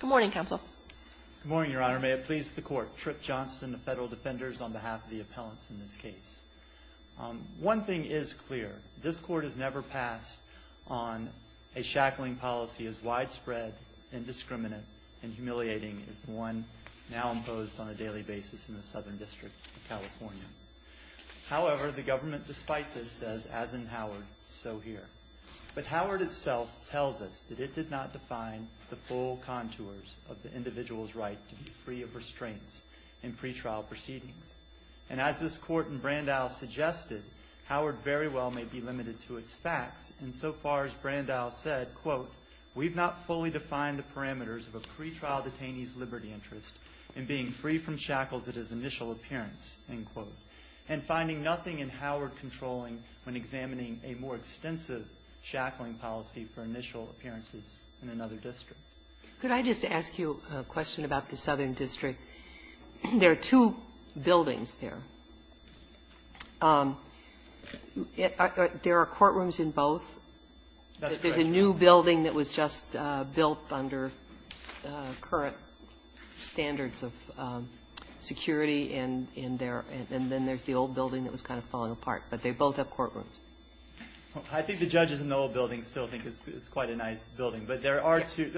Good morning, Counsel. Good morning, Your Honor. May it please the Court. Tripp Johnston of Federal Defenders on behalf of the appellants in this case. One thing is clear. This Court has never passed on a shackling policy as widespread, indiscriminate, and humiliating as the one now imposed on a daily basis in the Southern District of California. However, the government, despite this, says, as in Howard, so here. But Howard itself tells us that it did not define the full contours of the individual's right to be free of restraints in pretrial proceedings. And as this Court in Brandau suggested, Howard very well may be limited to its facts insofar as Brandau said, quote, We've not fully defined the parameters of a pretrial detainee's liberty interest in being free from shackles at his initial appearance, end quote, and finding nothing in Howard controlling when examining a more extensive shackling policy for initial appearances in another district. Could I just ask you a question about the Southern District? There are two buildings there. There are courtrooms in both. That's correct. There's a new building that was just built under current standards of security and then there's the old building that was kind of falling apart. But they both have courtrooms. I think the judges in the old building still think it's quite a nice building. But there are two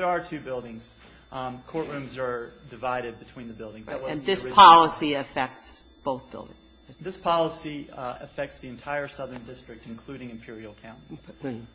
buildings. Courtrooms are divided between the buildings. And this policy affects both buildings? This policy affects the entire Southern District, including Imperial County.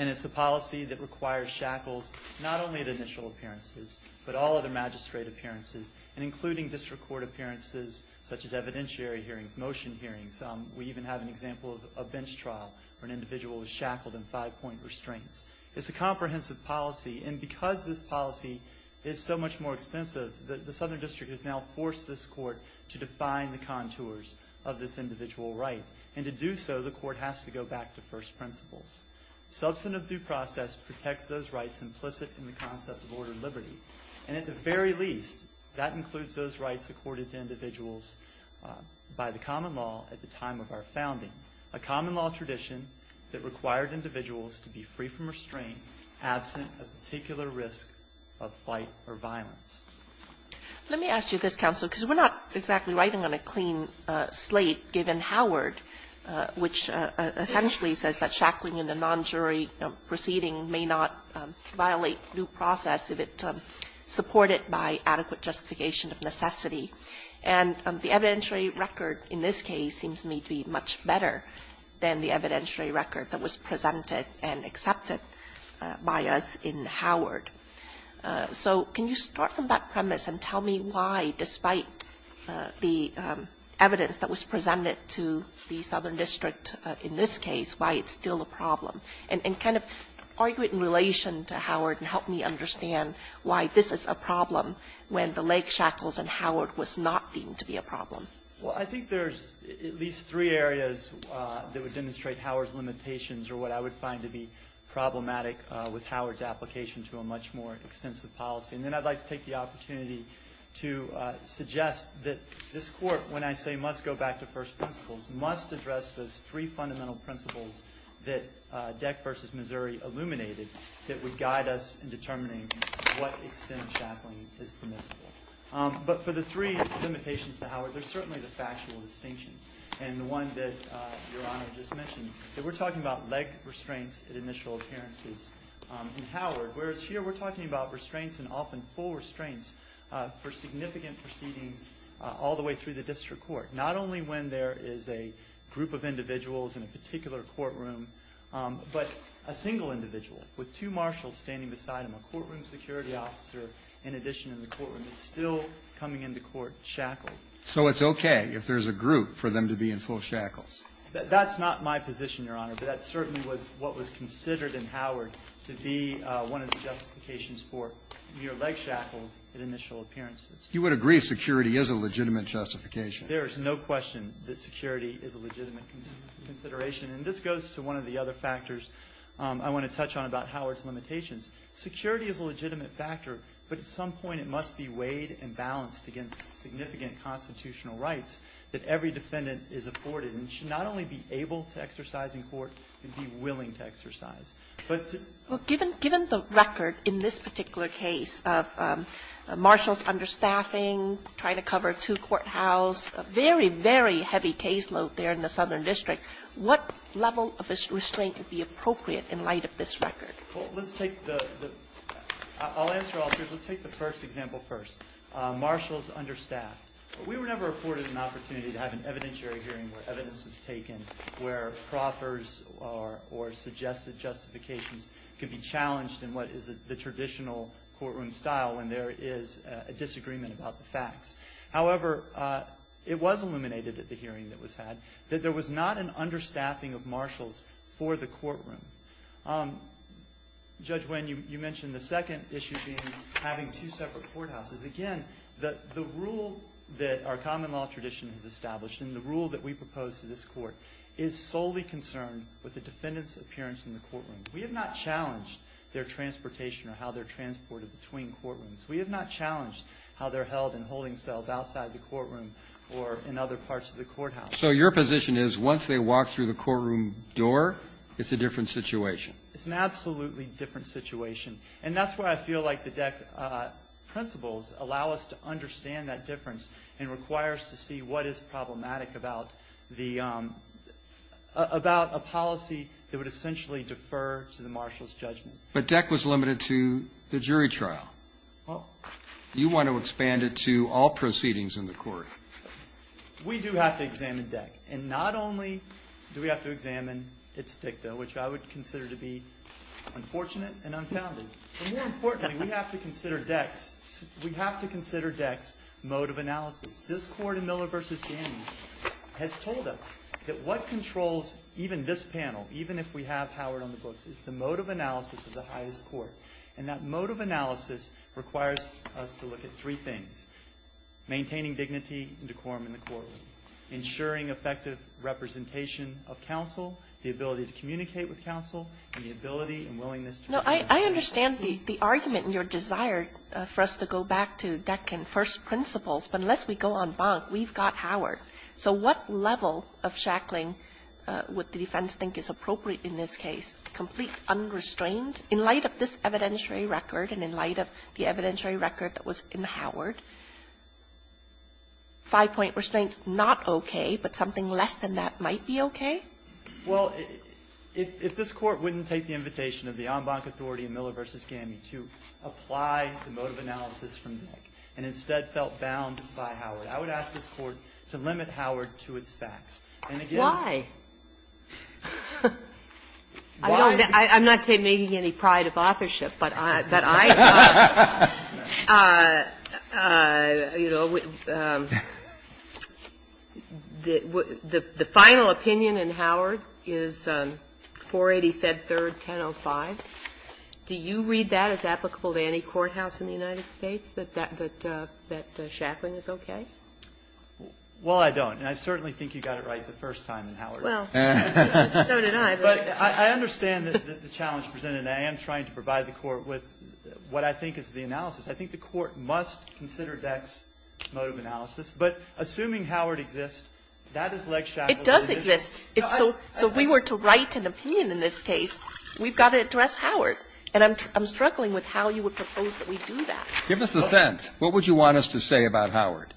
And it's a policy that requires shackles not only at initial appearances, but all other magistrate appearances, and including district court appearances such as evidentiary hearings, motion hearings. We even have an example of a bench trial where an individual is shackled in five-point restraints. It's a comprehensive policy, and because this policy is so much more extensive, the Southern District has now forced this court to define the contours of this individual right. And to do so, the court has to go back to first principles. Substantive due process protects those rights implicit in the concept of order and liberty. And at the very least, that includes those rights accorded to individuals by the common law at the time of our founding, a common law tradition that required individuals to be free from restraint, absent a particular risk of flight or violence. Let me ask you this, Counselor, because we're not exactly writing on a clean slate, given Howard, which essentially says that shackling in a non-jury proceeding may not violate due process if it's supported by adequate justification of necessity. And the evidentiary record in this case seems to me to be much better than the evidentiary record that was presented and accepted by us in Howard. So can you start from that premise and tell me why, despite the evidence that was presented to the Southern District in this case, why it's still a problem, and kind of argue it in relation to Howard and help me understand why this is a problem when the leg shackles in Howard was not deemed to be a problem? Well, I think there's at least three areas that would demonstrate Howard's limitations or what I would find to be problematic with Howard's application to a much more extensive policy. And then I'd like to take the opportunity to suggest that this Court, when I say must go back to first principles, must address those three fundamental principles that Deck versus Missouri illuminated that would guide us in determining what extent shackling is permissible. But for the three limitations to Howard, there's certainly the factual distinctions. And the one that Your Honor just mentioned, that we're talking about leg restraints at initial appearances in Howard, whereas here we're talking about restraints and often full restraints for significant proceedings all the way through the District Court. Not only when there is a group of individuals in a particular courtroom, but a single individual with two marshals standing beside him, a courtroom security officer, in addition in the courtroom, is still coming into court shackled. So it's okay if there's a group for them to be in full shackles? That's not my position, Your Honor, but that certainly was what was considered in Howard to be one of the justifications for mere leg shackles at initial appearances. You would agree security is a legitimate justification? There is no question that security is a legitimate consideration. And this goes to one of the other factors I want to touch on about Howard's limitations. Security is a legitimate factor, but at some point it must be weighed and balanced against significant constitutional rights that every defendant is afforded and should not only be able to exercise in court, but be willing to exercise. But to ---- Well, given the record in this particular case of marshals understaffing, trying to cover a two-courthouse, a very, very heavy caseload there in the Southern District, what level of restraint would be appropriate in light of this record? Well, let's take the ---- I'll answer all three. Let's take the first example first, marshals understaffed. We were never afforded an opportunity to have an evidentiary hearing where evidence was taken, where proffers or suggested justifications could be challenged in what is the traditional courtroom style when there is a disagreement about the facts. However, it was illuminated at the hearing that was had that there was not an understaffing of marshals for the courtroom. Judge Wen, you mentioned the second issue being having two separate courthouses. Again, the rule that our common law tradition has established and the rule that we propose to this Court is solely concerned with the defendant's appearance in the courtroom. We have not challenged their transportation or how they're transported between courtrooms. We have not challenged how they're held and holding cells outside the courtroom or in other parts of the courthouse. So your position is once they walk through the courtroom door, it's a different situation. It's an absolutely different situation. And that's why I feel like the DEC principles allow us to understand that difference and require us to see what is problematic about a policy that would essentially defer to the marshal's judgment. But DEC was limited to the jury trial. You want to expand it to all proceedings in the court. We do have to examine DEC. And not only do we have to examine its dicta, which I would consider to be unfortunate and unfounded, but more importantly we have to consider DEC's mode of analysis. This Court in Miller v. Danny has told us that what controls even this panel, even if we have Howard on the books, is the mode of analysis of the highest court. And that mode of analysis requires us to look at three things, maintaining dignity and decorum in the courtroom, ensuring effective representation of No, I understand the argument and your desire for us to go back to DEC and first principles, but unless we go en banc, we've got Howard. So what level of shackling would the defense think is appropriate in this case? Complete unrestrained in light of this evidentiary record and in light of the evidentiary record that was in Howard? Five-point restraints, not okay, but something less than that might be okay? Well, if this Court wouldn't take the invitation of the en banc authority in Miller v. Danny to apply the mode of analysis from DEC and instead felt bound by Howard, I would ask this Court to limit Howard to its facts. And again why? I'm not taking any pride of authorship, but I thought, you know, the final opinion in Howard is 480, Fed 3rd, 1005. Do you read that as applicable to any courthouse in the United States, that shackling is okay? Well, I don't. And I certainly think you got it right the first time in Howard. Well, so did I. But I understand the challenge presented, and I am trying to provide the Court with what I think is the analysis. I think the Court must consider DEC's mode of analysis. But assuming Howard exists, that is leg shackled. It does exist. So if we were to write an opinion in this case, we've got to address Howard. And I'm struggling with how you would propose that we do that. Give us a sense. What would you want us to say about Howard?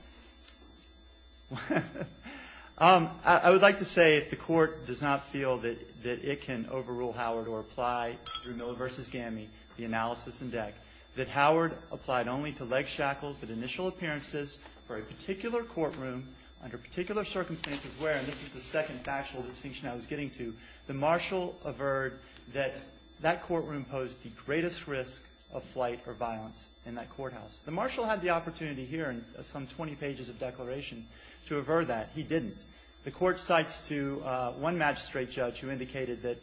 I would like to say if the Court does not feel that it can overrule Howard or apply through Miller v. Gammie the analysis in DEC, that Howard applied only to leg shackles at initial appearances for a particular courtroom under particular circumstances where, and this is the second factual distinction I was getting to, the marshal averred that that courtroom posed the greatest risk of flight or violence in that courthouse. The marshal had the opportunity here in some 20 pages of declaration to aver that. He didn't. The Court cites to one magistrate judge who indicated that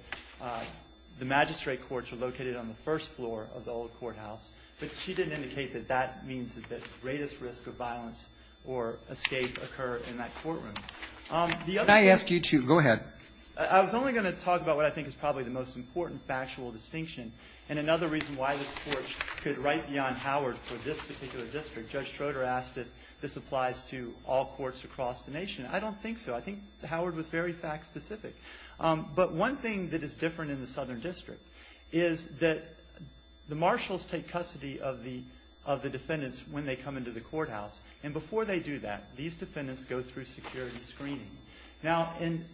the magistrate courts are located on the first floor of the old courthouse. But she didn't indicate that that means that the greatest risk of violence or escape occur in that courtroom. Can I ask you to go ahead? I was only going to talk about what I think is probably the most important factual distinction and another reason why this Court could write beyond Howard for this particular district. Judge Schroeder asked if this applies to all courts across the nation. I don't think so. I think Howard was very fact specific. But one thing that is different in the Southern District is that the marshals take custody of the defendants when they come into the courthouse. And before they do that, these defendants go through security screening. Now, in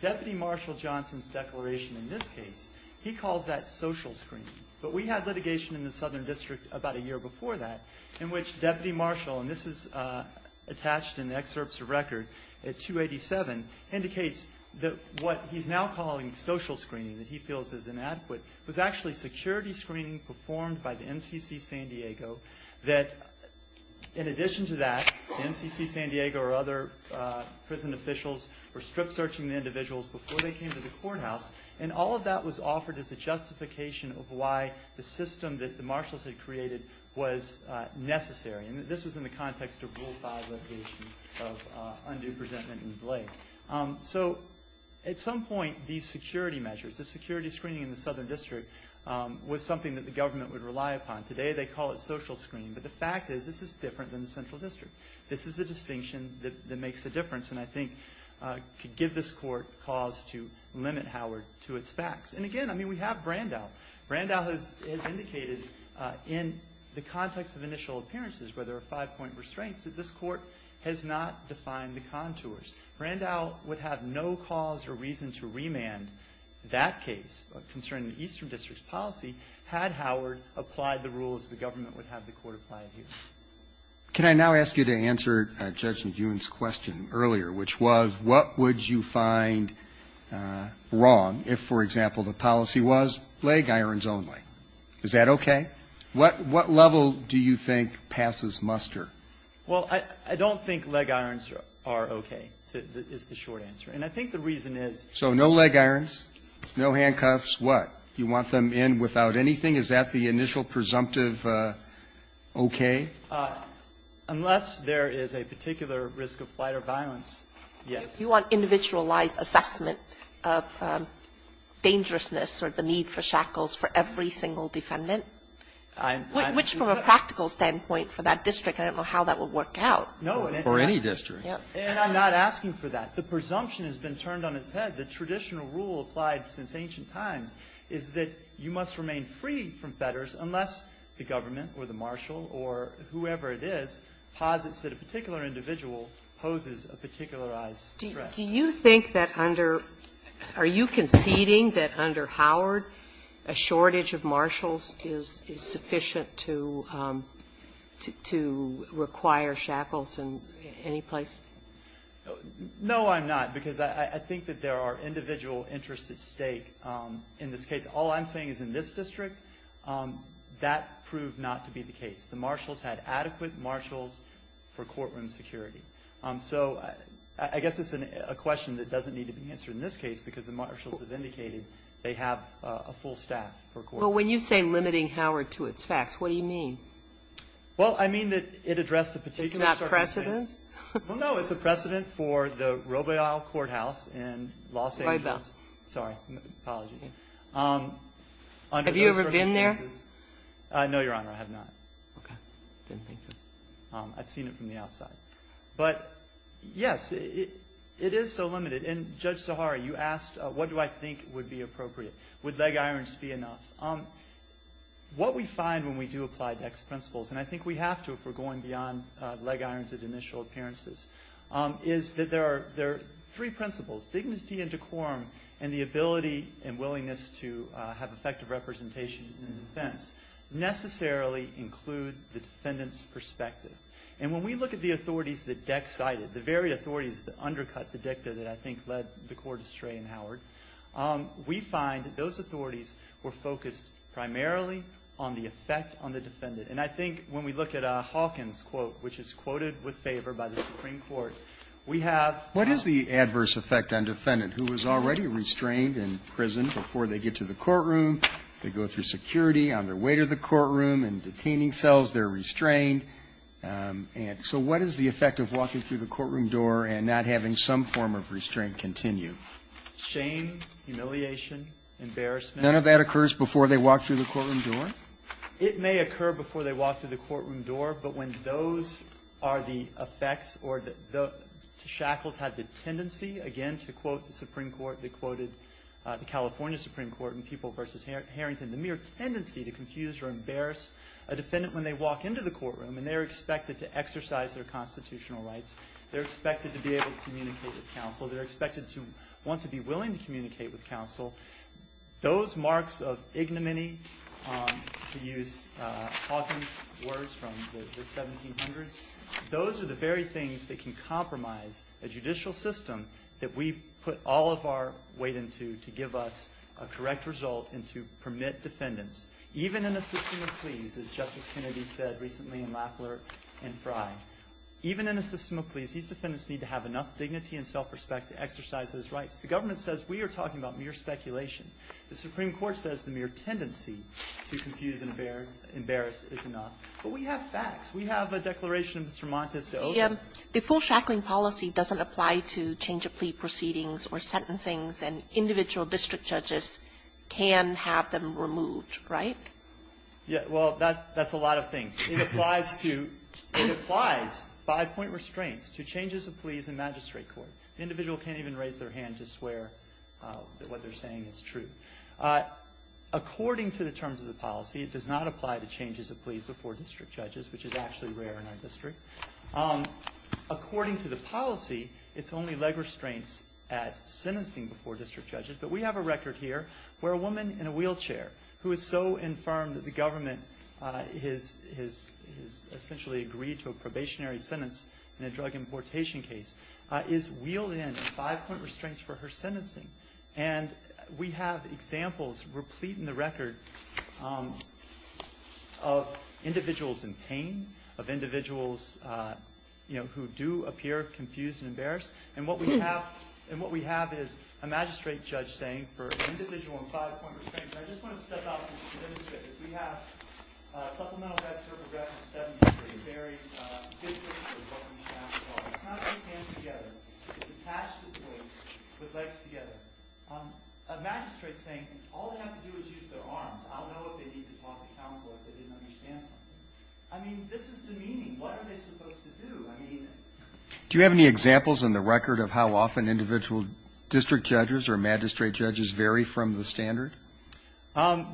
Deputy Marshal Johnson's declaration in this case, he calls that social screening. But we had litigation in the Southern District about a year before that in which Deputy Marshal, and this is attached in the excerpts of record at 287, indicates that what he's now calling social screening that he feels is inadequate was actually security screening performed by the MCC San Diego that, in addition to that, the MCC San Diego or other prison officials were strip searching the individuals before they came to the courthouse. And all of that was offered as a justification of why the system that the marshals had created was necessary. And this was in the context of Rule 5 litigation of undue resentment and delay. So at some point, these security measures, the security screening in the Southern District was something that the government would rely upon. Today they call it social screening. But the fact is this is different than the Central District. This is the distinction that makes a difference and I think could give this court cause to limit Howard to its facts. And again, I mean, we have Brandau. Brandau has indicated in the context of initial appearances where there are five-point restraints that this court has not defined the contours. Brandau would have no cause or reason to remand that case concerning the Eastern District's policy had Howard applied the rules the government would have the court apply here. Can I now ask you to answer Judge McEwen's question earlier, which was what would you find wrong if, for example, the policy was leg irons only? Is that okay? What level do you think passes muster? Well, I don't think leg irons are okay, is the short answer. And I think the reason is no leg irons, no handcuffs. What? You want them in without anything? Is that the initial presumptive okay? Unless there is a particular risk of flight or violence, yes. You want individualized assessment of dangerousness or the need for shackles for every single defendant? Which, from a practical standpoint for that district, I don't know how that would work out. For any district. And I'm not asking for that. The presumption has been turned on its head. The traditional rule applied since ancient times is that you must remain free from fetters unless the government or the marshal or whoever it is posits that a particular individual poses a particularized threat. Do you think that under – are you conceding that under Howard a shortage of marshals is sufficient to require shackles in any place? No, I'm not. Because I think that there are individual interests at stake in this case. All I'm saying is in this district, that proved not to be the case. The marshals had adequate marshals for courtroom security. So I guess it's a question that doesn't need to be answered in this case, because the marshals have indicated they have a full staff for courtroom security. But when you say limiting Howard to its facts, what do you mean? Well, I mean that it addressed a particular shortage of marshals. It's not precedent? Well, no. It's a precedent for the Robaille Courthouse in Los Angeles. Robaille. Sorry. Apologies. Have you ever been there? No, Your Honor. I have not. Okay. Didn't think so. I've seen it from the outside. But, yes, it is so limited. And Judge Zaharie, you asked what do I think would be appropriate. Would leg irons be enough? What we find when we do apply Dex principles, and I think we have to if we're going beyond leg irons at initial appearances, is that there are three principles. Dignity and decorum and the ability and willingness to have effective representation in defense necessarily include the defendant's perspective. And when we look at the authorities that Dex cited, the very authorities that undercut the dicta that I think led the court astray in Howard, we find that those authorities were focused primarily on the effect on the defendant. And I think when we look at Hawkins' quote, which is quoted with favor by the Supreme Court, we have ---- What is the adverse effect on defendant who was already restrained in prison before they get to the courtroom, they go through security on their way to the courtroom, and so what is the effect of walking through the courtroom door and not having some form of restraint continue? Shame, humiliation, embarrassment. None of that occurs before they walk through the courtroom door? It may occur before they walk through the courtroom door, but when those are the effects or the shackles have the tendency, again, to quote the Supreme Court, they quoted the California Supreme Court in People v. Harrington, the mere tendency to confuse or embarrass a defendant when they walk into the courtroom, and they're expected to exercise their constitutional rights. They're expected to be able to communicate with counsel. They're expected to want to be willing to communicate with counsel. Those marks of ignominy, to use Hawkins' words from the 1700s, those are the very things that can compromise a judicial system that we put all of our weight into to give us a correct result and to permit defendants, even in a system of pleas, as Justice Kennedy said recently in Lafleur and Frye, even in a system of pleas, these defendants need to have enough dignity and self-respect to exercise those rights. The government says we are talking about mere speculation. The Supreme Court says the mere tendency to confuse and embarrass is enough. But we have facts. We have a declaration of Mr. Montes de Oca. The full shackling policy doesn't apply to change-of-plea proceedings or sentencings before district judges can have them removed, right? Yeah, well, that's a lot of things. It applies to five-point restraints to changes of pleas in magistrate court. The individual can't even raise their hand to swear that what they're saying is true. According to the terms of the policy, it does not apply to changes of pleas before district judges, which is actually rare in our district. According to the policy, it's only leg restraints at sentencing before district judges, but we have a record here where a woman in a wheelchair who is so infirmed that the government has essentially agreed to a probationary sentence in a drug importation case is wheeled in five-point restraints for her sentencing. And we have examples replete in the record of individuals in pain, of individuals who do appear confused and embarrassed. And what we have is a magistrate judge saying for an individual in five-point restraints, and I just want to step out and demonstrate this. We have Supplemental Code of Progress in the Seventh District, a very good place for government to pass a law. It's not all hands together. It's attached to place with legs together. A magistrate saying all they have to do is use their arms. I'll know if they need to talk to counsel if they didn't understand something. I mean, this is demeaning. What are they supposed to do? Do you have any examples in the record of how often individual district judges or magistrate judges vary from the standard?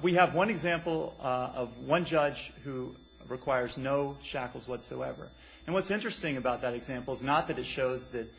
We have one example of one judge who requires no shackles whatsoever. And what's interesting about that example is not that it shows that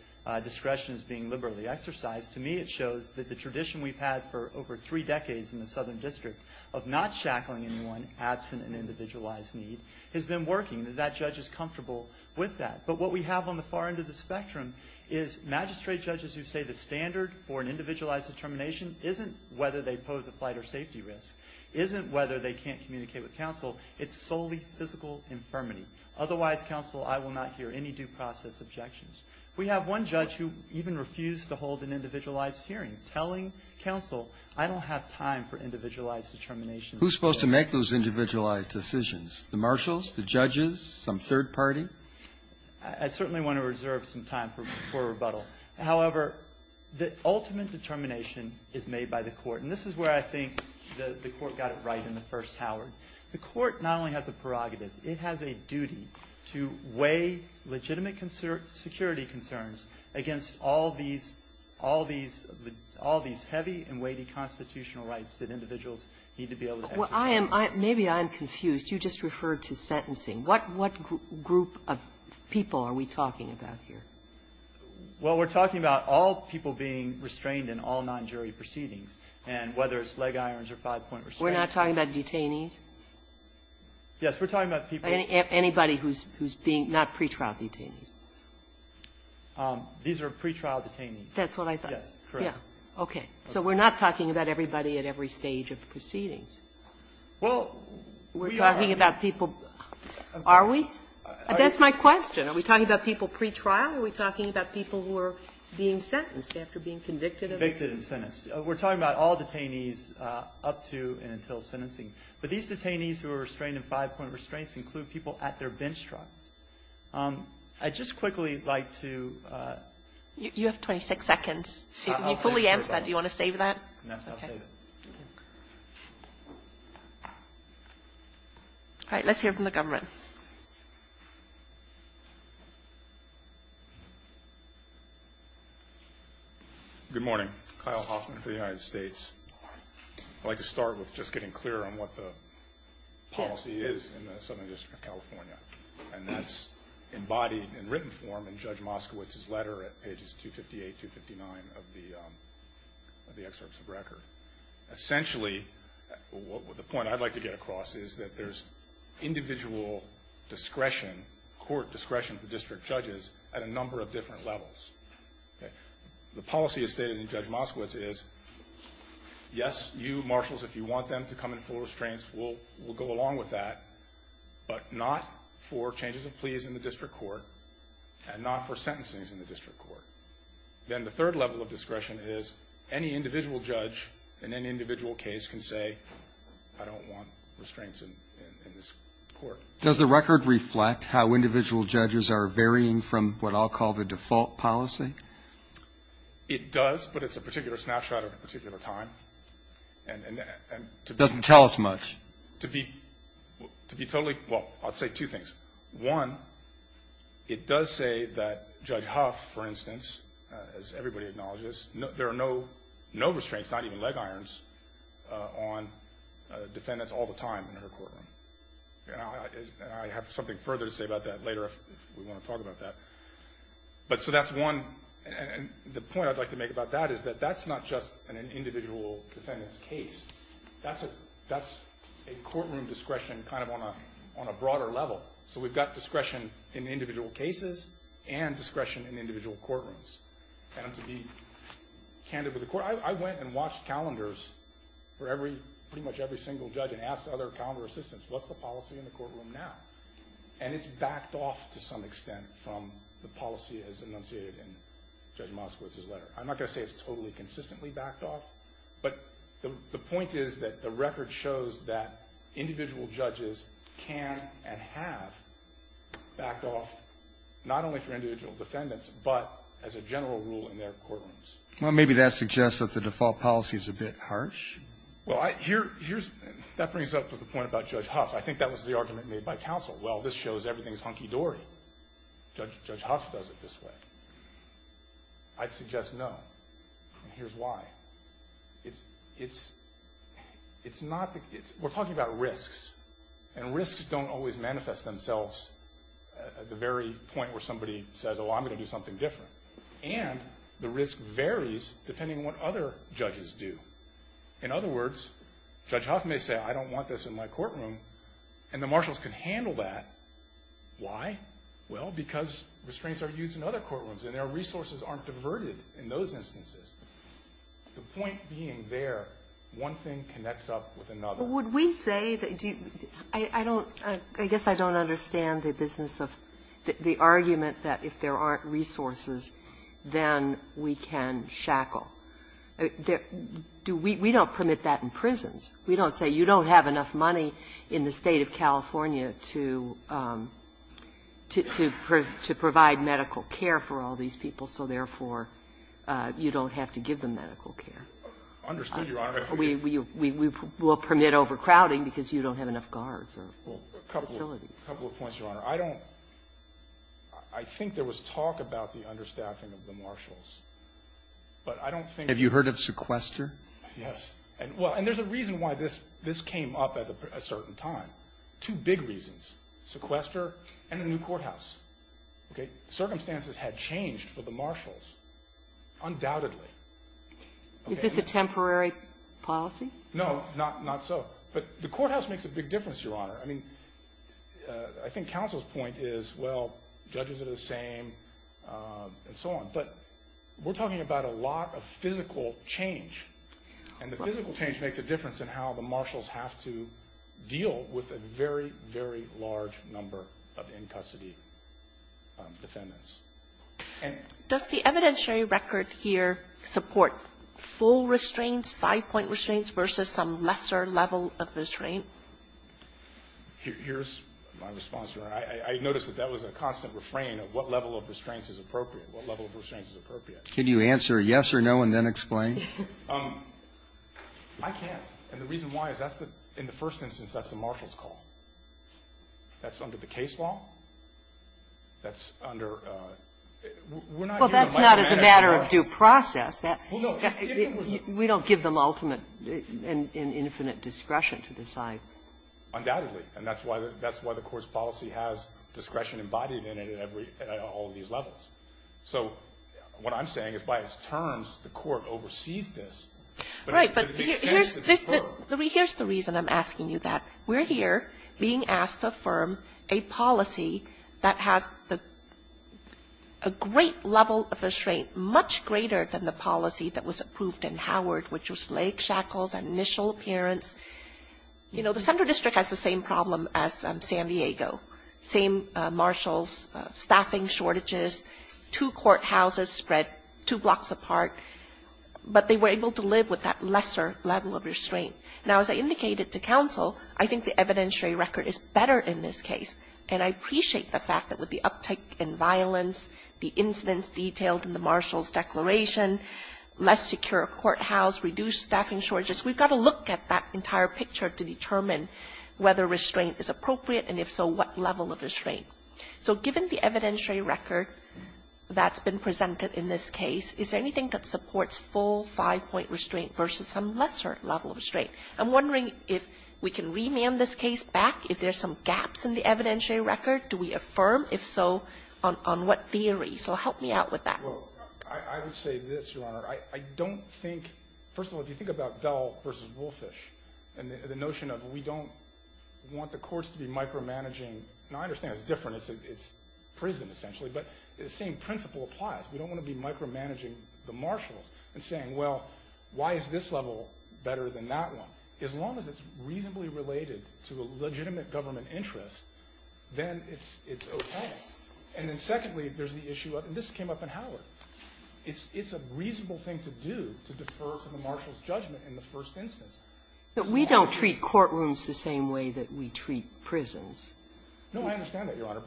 discretion is being liberally exercised. To me, it shows that the tradition we've had for over three decades in the Southern District of not shackling anyone absent an individualized need has been working, that that judge is comfortable with that. But what we have on the far end of the spectrum is magistrate judges who say the standard for an individualized determination isn't whether they pose a flight or safety risk, isn't whether they can't communicate with counsel. It's solely physical infirmity. Otherwise, counsel, I will not hear any due process objections. We have one judge who even refused to hold an individualized hearing, telling counsel, I don't have time for individualized determinations. Who's supposed to make those individualized decisions? The marshals, the judges, some third party? I certainly want to reserve some time for rebuttal. However, the ultimate determination is made by the Court. And this is where I think the Court got it right in the first Howard. The Court not only has a prerogative, it has a duty to weigh legitimate security concerns against all these heavy and weighty constitutional rights that individuals need to be able to exercise. Well, I am, maybe I'm confused. You just referred to sentencing. What group of people are we talking about here? Well, we're talking about all people being restrained in all non-jury proceedings, and whether it's leg irons or five-point restraints. We're not talking about detainees? Yes, we're talking about people. Anybody who's being, not pretrial detainees? These are pretrial detainees. That's what I thought. Yes, correct. So we're not talking about everybody at every stage of the proceedings. Well, we are. We're talking about people. Are we? That's my question. Are we talking about people pretrial? Are we talking about people who are being sentenced after being convicted of it? Convicted and sentenced. We're talking about all detainees up to and until sentencing. But these detainees who are restrained in five-point restraints include people at their bench trials. I'd just quickly like to ---- You have 26 seconds. When you fully answer that, do you want to save that? No, I'll save it. All right. Let's hear from the government. Good morning. Kyle Hoffman for the United States. I'd like to start with just getting clear on what the policy is in the Southern District of California. And that's embodied in written form in Judge Moskowitz's letter at pages 258, 259 of the excerpts of record. Essentially, the point I'd like to get across is that there's individual discretion, court discretion for district judges at a number of different levels. The policy as stated in Judge Moskowitz is, yes, you marshals, if you want them to come in full restraints, we'll go along with that, but not for changes of pleas in the district court and not for sentencing in the district court. And the third level of discretion is any individual judge in any individual case can say, I don't want restraints in this court. Does the record reflect how individual judges are varying from what I'll call the default policy? It does, but it's a particular snapshot of a particular time. And to be ---- It doesn't tell us much. To be totally ---- Well, I'll say two things. One, it does say that Judge Huff, for instance, as everybody acknowledges, there are no restraints, not even leg irons, on defendants all the time in her courtroom. And I have something further to say about that later if we want to talk about that. But so that's one. And the point I'd like to make about that is that that's not just an individual defendant's case. That's a courtroom discretion kind of on a broader level. So we've got discretion in individual cases and discretion in individual courtrooms. And to be candid with the court, I went and watched calendars for pretty much every single judge and asked other calendar assistants, what's the policy in the courtroom now? And it's backed off to some extent from the policy as enunciated in Judge Moskowitz's letter. I'm not going to say it's totally consistently backed off. But the point is that the record shows that individual judges can and have backed off not only for individual defendants, but as a general rule in their courtrooms. Well, maybe that suggests that the default policy is a bit harsh. Well, that brings up the point about Judge Huff. I think that was the argument made by counsel. Well, this shows everything is hunky-dory. Judge Huff does it this way. I'd suggest no. And here's why. We're talking about risks. And risks don't always manifest themselves at the very point where somebody says, oh, I'm going to do something different. And the risk varies depending on what other judges do. In other words, Judge Huff may say, I don't want this in my courtroom. And the marshals can handle that. Why? Well, because restraints are used in other courtrooms and their resources aren't diverted in those instances. The point being there, one thing connects up with another. But would we say that do you – I don't – I guess I don't understand the business of – the argument that if there aren't resources, then we can shackle. Do we – we don't permit that in prisons. We don't say you don't have enough money in the State of California to provide medical care for all these people, so therefore you don't have to give them medical care. I understand, Your Honor. We will permit overcrowding because you don't have enough guards or facilities. A couple of points, Your Honor. I don't – I think there was talk about the understaffing of the marshals. But I don't think – Have you heard of sequester? Yes. And there's a reason why this came up at a certain time. Two big reasons. Sequester and a new courthouse. Okay? Circumstances had changed for the marshals, undoubtedly. Is this a temporary policy? No, not so. But the courthouse makes a big difference, Your Honor. I mean, I think counsel's point is, well, judges are the same, and so on. But we're talking about a lot of physical change. And the physical change makes a difference in how the marshals have to deal with a very, very large number of in-custody defendants. Does the evidentiary record here support full restraints, five-point restraints, versus some lesser level of restraint? Here's my response, Your Honor. I noticed that that was a constant refrain of what level of restraint is appropriate, what level of restraint is appropriate. Can you answer yes or no and then explain? I can't. And the reason why is that's the – in the first instance, that's the marshal's call. That's under the case law. That's under – we're not giving them like a mandate to do that. Well, that's not as a matter of due process. Well, no. We don't give them ultimate and infinite discretion to decide. Undoubtedly. And that's why the Court's policy has discretion embodied in it at all of these levels. So what I'm saying is by its terms, the Court oversees this. Right. But here's the reason I'm asking you that. We're here being asked to affirm a policy that has a great level of restraint much greater than the policy that was approved in Howard, which was leg shackles and initial appearance. You know, the Central District has the same problem as San Diego, same marshals, staffing shortages, two courthouses spread two blocks apart, but they were able to live with that lesser level of restraint. Now, as I indicated to counsel, I think the evidentiary record is better in this case, and I appreciate the fact that with the uptick in violence, the incidents detailed in the marshal's declaration, less secure courthouse, reduced staffing shortages, we've got to look at that entire picture to determine whether restraint is appropriate, and if so, what level of restraint. So given the evidentiary record that's been presented in this case, is there anything that supports full five-point restraint versus some lesser level of restraint? I'm wondering if we can remand this case back. If there's some gaps in the evidentiary record, do we affirm? If so, on what theory? So help me out with that. Well, I would say this, Your Honor. I don't think — first of all, if you think about Dell v. Woolfish and the notion of we don't want the courts to be micromanaging — and I understand it's different. It's prison, essentially, but the same principle applies. We don't want to be micromanaging the marshals and saying, well, why is this level better than that one? As long as it's reasonably related to a legitimate government interest, then it's okay. And then secondly, there's the issue of — and this came up in Howard. It's a reasonable thing to do, to defer to the marshal's judgment in the first instance. But we don't treat courtrooms the same way that we treat prisons. No, I understand that, Your Honor.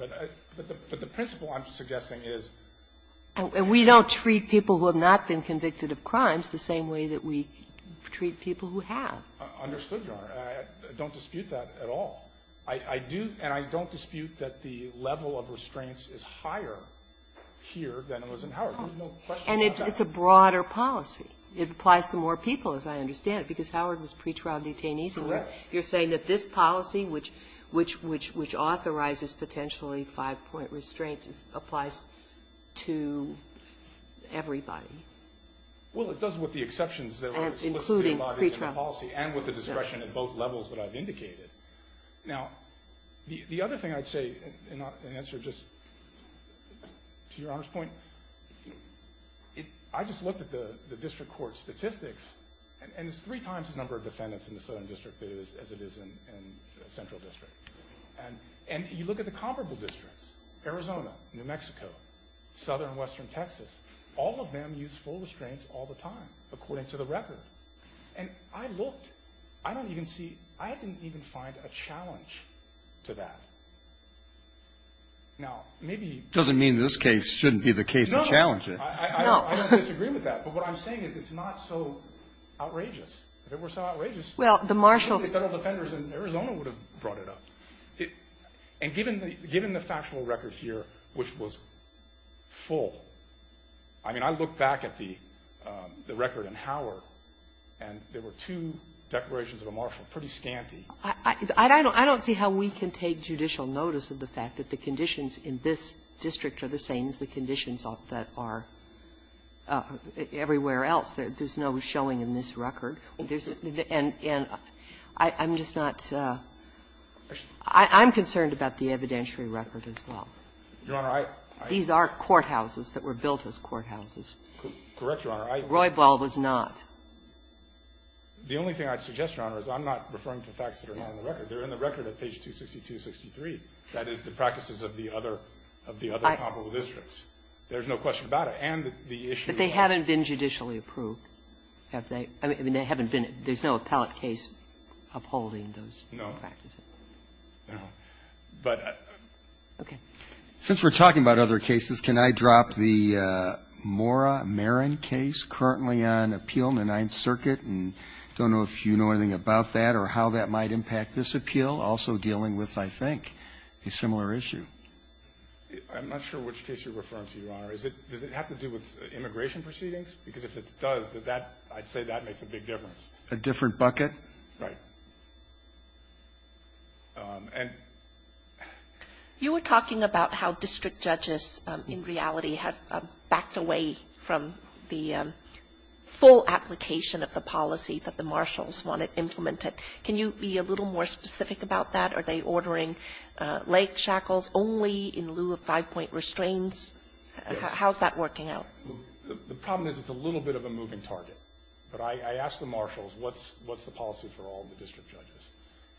But the principle I'm suggesting is — We don't treat people who have not been convicted of crimes the same way that we treat people who have. Understood, Your Honor. I don't dispute that at all. I do, and I don't dispute that the level of restraints is higher here than it was in Howard. There's no question about that. And it's a broader policy. It applies to more people, as I understand it, because Howard was pre-trial detainees. Correct. And you're saying that this policy, which authorizes potentially five-point restraints, applies to everybody. Well, it does with the exceptions that are explicitly embodied in the policy and with the discretion at both levels that I've indicated. Now, the other thing I'd say in answer just to Your Honor's point, I just looked at the district court statistics, and it's three times the number of defendants in the Southern District as it is in the Central District. And you look at the comparable districts, Arizona, New Mexico, Southern and Western Texas, all of them use full restraints all the time, according to the record. And I looked. I don't even see — I didn't even find a challenge to that. Now, maybe — Doesn't mean this case shouldn't be the case to challenge it. No. I don't disagree with that. But what I'm saying is it's not so outrageous, if it were so outrageous. Well, the marshals — I don't think Federal defenders in Arizona would have brought it up. And given the factual record here, which was full, I mean, I look back at the record in Howard, and there were two declarations of a marshal, pretty scanty. I don't see how we can take judicial notice of the fact that the conditions in this district are the same as the conditions that are everywhere else. There's no showing in this record. And I'm just not — I'm concerned about the evidentiary record as well. Your Honor, I — These are courthouses that were built as courthouses. Correct, Your Honor. Roybal was not. The only thing I'd suggest, Your Honor, is I'm not referring to facts that are not in the record. They're in the record at page 262 and 263. That is, the practices of the other comparable districts. There's no question about it. And the issue of — But they haven't been judicially approved, have they? I mean, they haven't been — there's no appellate case upholding those practices. No. No. But — Okay. Since we're talking about other cases, can I drop the Mora Marin case currently on appeal in the Ninth Circuit? And I don't know if you know anything about that or how that might impact this appeal. Also dealing with, I think, a similar issue. I'm not sure which case you're referring to, Your Honor. Does it have to do with immigration proceedings? Because if it does, I'd say that makes a big difference. A different bucket? Right. And — You were talking about how district judges, in reality, have backed away from the full application of the policy that the marshals wanted implemented. Can you be a little more specific about that? Are they ordering leg shackles only in lieu of five-point restraints? Yes. How's that working out? The problem is it's a little bit of a moving target. But I ask the marshals, what's the policy for all the district judges?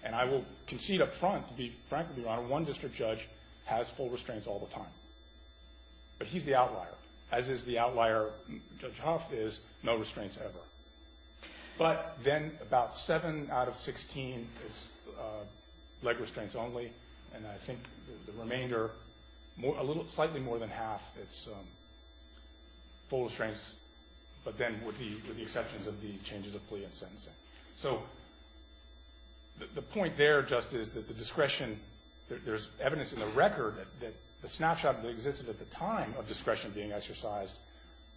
And I will concede up front, to be frank with you, Your Honor, one district judge has full restraints all the time. But he's the outlier, as is the outlier Judge Huff is, no restraints ever. But then about seven out of 16 is leg restraints only, and I think the remainder, slightly more than half, is full restraints, but then with the exceptions of the changes of plea and sentencing. So the point there just is that the discretion, there's evidence in the record that the snapshot that existed at the time of discretion being exercised,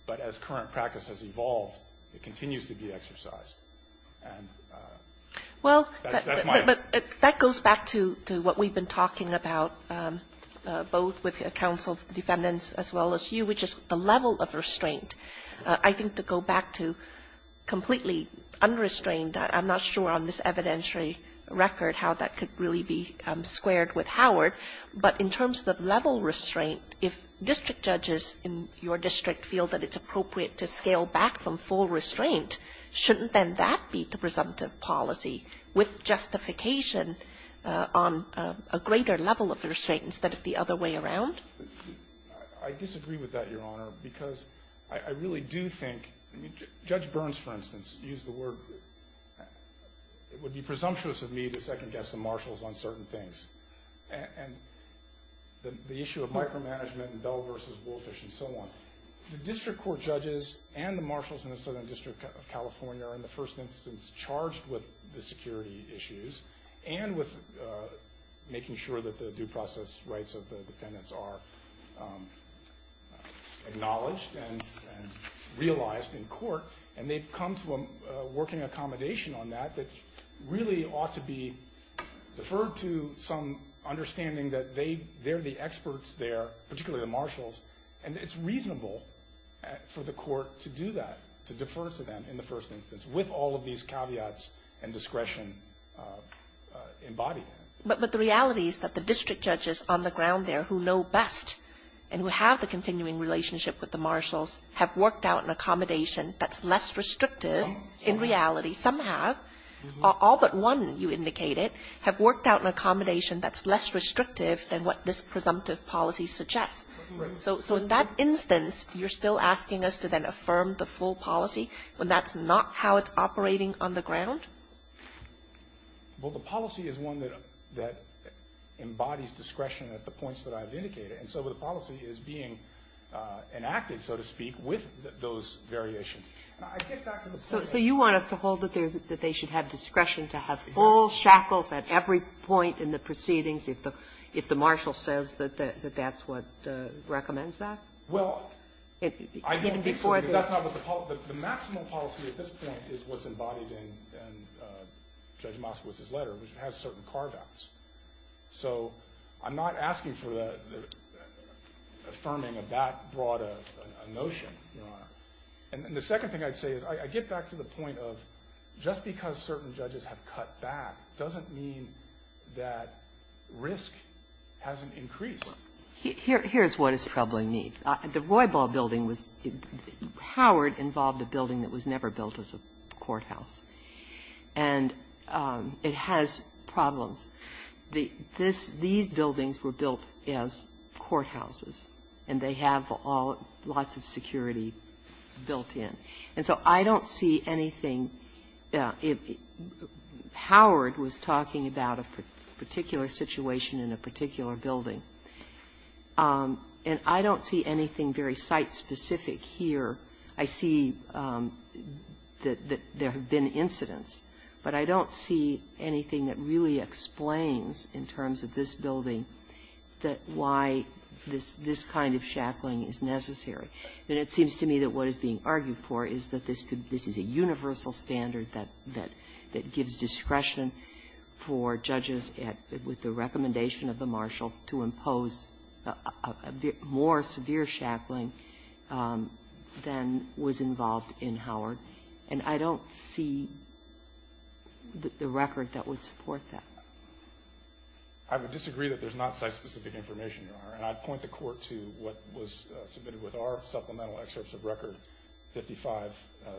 but as current practice has evolved, it continues to be exercised. Well, that goes back to what we've been talking about, both with counsel defendants as well as you, which is the level of restraint. I think to go back to completely unrestrained, I'm not sure on this evidentiary record how that could really be squared with Howard, but in terms of level restraint, if district judges in your district feel that it's appropriate to scale back from full restraint, shouldn't then that be the presumptive policy with justification on a greater level of restraint instead of the other way around? I disagree with that, Your Honor, because I really do think, Judge Burns, for instance, used the word, it would be presumptuous of me to second-guess the marshals on certain things. And the issue of micromanagement and Bell versus Woolfish and so on, the district court judges and the marshals in the Southern District of California are, in the first instance, charged with the security issues and with making sure that the due process rights of the defendants are acknowledged and realized in court, and they've come to a working accommodation on that that really ought to be deferred to some understanding that they're the experts there, particularly the marshals. And it's reasonable for the court to do that, to defer to them in the first instance with all of these caveats and discretion embodied. But the reality is that the district judges on the ground there who know best and who have the continuing relationship with the marshals have worked out an accommodation that's less restrictive. In reality, some have. All but one, you indicated, have worked out an accommodation that's less restrictive than what this presumptive policy suggests. So in that instance, you're still asking us to then affirm the full policy when that's not how it's operating on the ground? Well, the policy is one that embodies discretion at the points that I've indicated. And so the policy is being enacted, so to speak, with those variations. And I get back to the point that you're making. So you want us to hold that they should have discretion to have full shackles at every point in the proceedings if the marshal says that that's what recommends that? Well, I don't think so, because that's not what the policy at this point is what's embodied in Judge Moskowitz's letter, which has certain carve-outs. So I'm not asking for the affirming of that broad a notion, Your Honor. And the second thing I'd say is I get back to the point of just because certain judges have cut back doesn't mean that risk hasn't increased. Here's what is troubling me. The Roybal building was – Howard involved a building that was never built as a courthouse. And it has problems. These buildings were built as courthouses, and they have all – lots of security built in. And so I don't see anything – Howard was talking about a particular situation in a particular building, and I don't see anything very site-specific here. I see that there have been incidents, but I don't see anything that really explains in terms of this building that why this kind of shackling is necessary. And it seems to me that what is being argued for is that this is a universal standard that gives discretion for judges with the recommendation of the marshal to impose a bit more severe shackling than was involved in Howard. And I don't see the record that would support that. I would disagree that there's not site-specific information, Your Honor. And I'd point the Court to what was submitted with our supplemental excerpts of record 55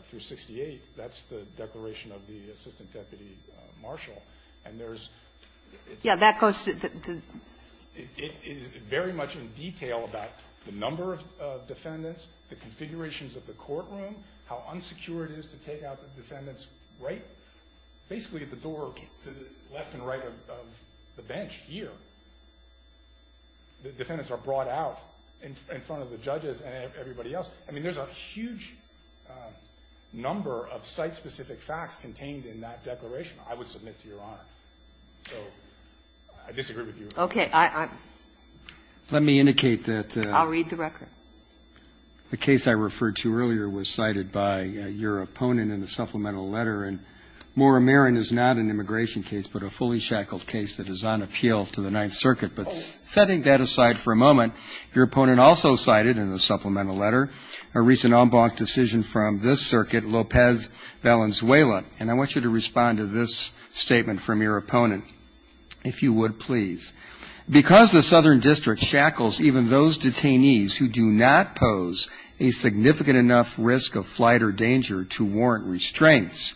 through 68. That's the declaration of the assistant deputy marshal. And there's – Yeah, that goes to the – It is very much in detail about the number of defendants, the configurations of the courtroom, how unsecure it is to take out the defendants right – basically at the door to the left and right of the bench here. The defendants are brought out in front of the judges and everybody else. I mean, there's a huge number of site-specific facts contained in that declaration, I would submit to Your Honor. So I disagree with you. Okay. Let me indicate that – I'll read the record. The case I referred to earlier was cited by your opponent in the supplemental letter. And Maura Marin is not an immigration case, but a fully shackled case that is on appeal to the Ninth Circuit. But setting that aside for a moment, your opponent also cited in the supplemental letter a recent en banc decision from this circuit, Lopez Valenzuela. And I want you to respond to this statement from your opponent, if you would please. Because the Southern District shackles even those detainees who do not pose a significant enough risk of flight or danger to warrant restraints,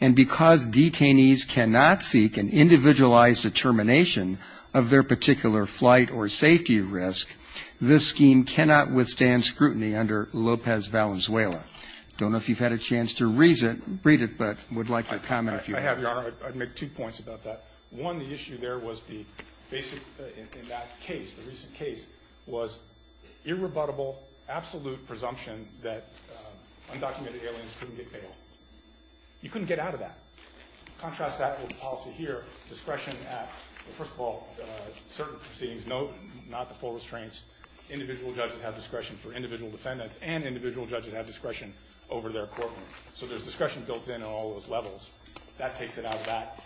and because detainees cannot seek an individualized determination of their particular flight or safety risk, this scheme cannot withstand scrutiny under Lopez Valenzuela. I don't know if you've had a chance to read it, but I would like you to comment if you have. I have, Your Honor. I'd make two points about that. One, the issue there was the basic – in that case, the recent case, was irrebuttable, absolute presumption that undocumented aliens couldn't get bail. You couldn't get out of that. Contrast that with the policy here, discretion at – first of all, certain proceedings note, not the full restraints. Individual judges have discretion for individual defendants, and individual judges have discretion over their courtroom. So there's discretion built in on all those levels. That takes it out of that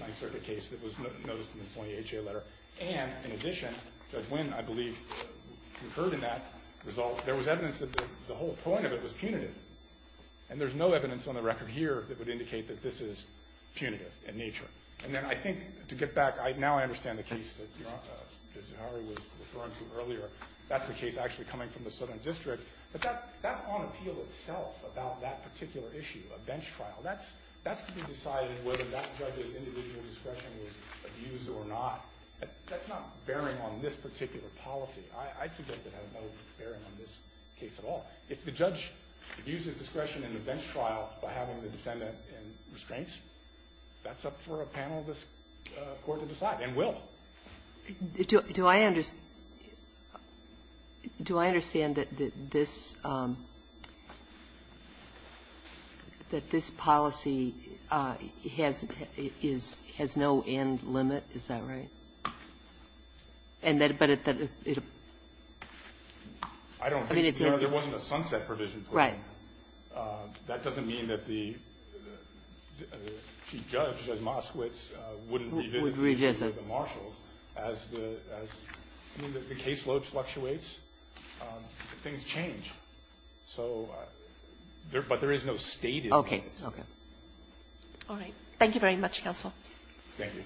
Ninth Circuit case that was noticed in the 20HA letter. And in addition, Judge Wynn, I believe, concurred in that result. There was evidence that the whole point of it was punitive. And there's no evidence on the record here that would indicate that this is punitive in nature. And then I think, to get back – now I understand the case that Judge Zahari was referring to earlier. That's the case actually coming from the Southern District. But that's on appeal itself about that particular issue, a bench trial. That's to be decided whether that judge's individual discretion was abused or not. That's not bearing on this particular policy. I'd suggest it has no bearing on this case at all. If the judge abuses discretion in a bench trial by having the defendant in restraints, that's up for a panel of this Court to decide, and will. Kagan. Do I understand that this policy has no end limit? Is that right? I don't think there wasn't a sunset provision put in. Right. That doesn't mean that the chief judge, Judge Moskowitz, wouldn't be visiting with the marshals. As the caseload fluctuates, things change. But there is no stated limit. Okay. All right. Thank you very much, Counsel. Thank you.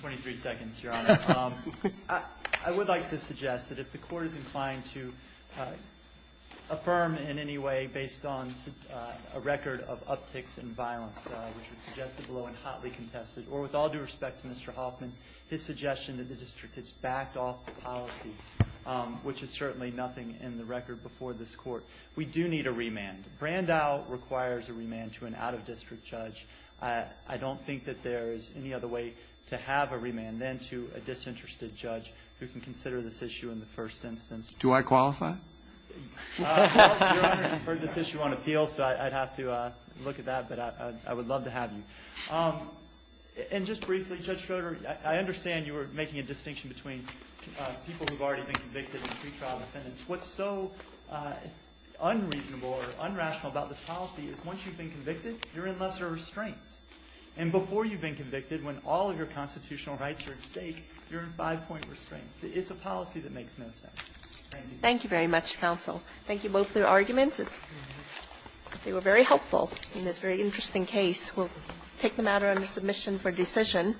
Twenty-three seconds, Your Honor. I would like to suggest that if the Court is inclined to affirm in any way based on a record of upticks in violence, which was suggested below and hotly contested, or with all due respect to Mr. Hoffman, his suggestion that the district is backed off the policy, which is certainly nothing in the record before this Court, we do need a remand. Brandau requires a remand to an out-of-district judge. I don't think that there is any other way to have a remand than to a disinterested judge who can consider this issue in the first instance. Do I qualify? Your Honor, you've heard this issue on appeal, so I'd have to look at that. But I would love to have you. And just briefly, Judge Schroeder, I understand you were making a distinction between people who've already been convicted and pretrial defendants. What's so unreasonable or unrational about this policy is once you've been convicted, you're in lesser restraints. And before you've been convicted, when all of your constitutional rights are at stake, you're in five-point restraints. It's a policy that makes no sense. Thank you. Thank you very much, counsel. Thank you both for your arguments. They were very helpful in this very interesting case. We'll take the matter under submission for decision.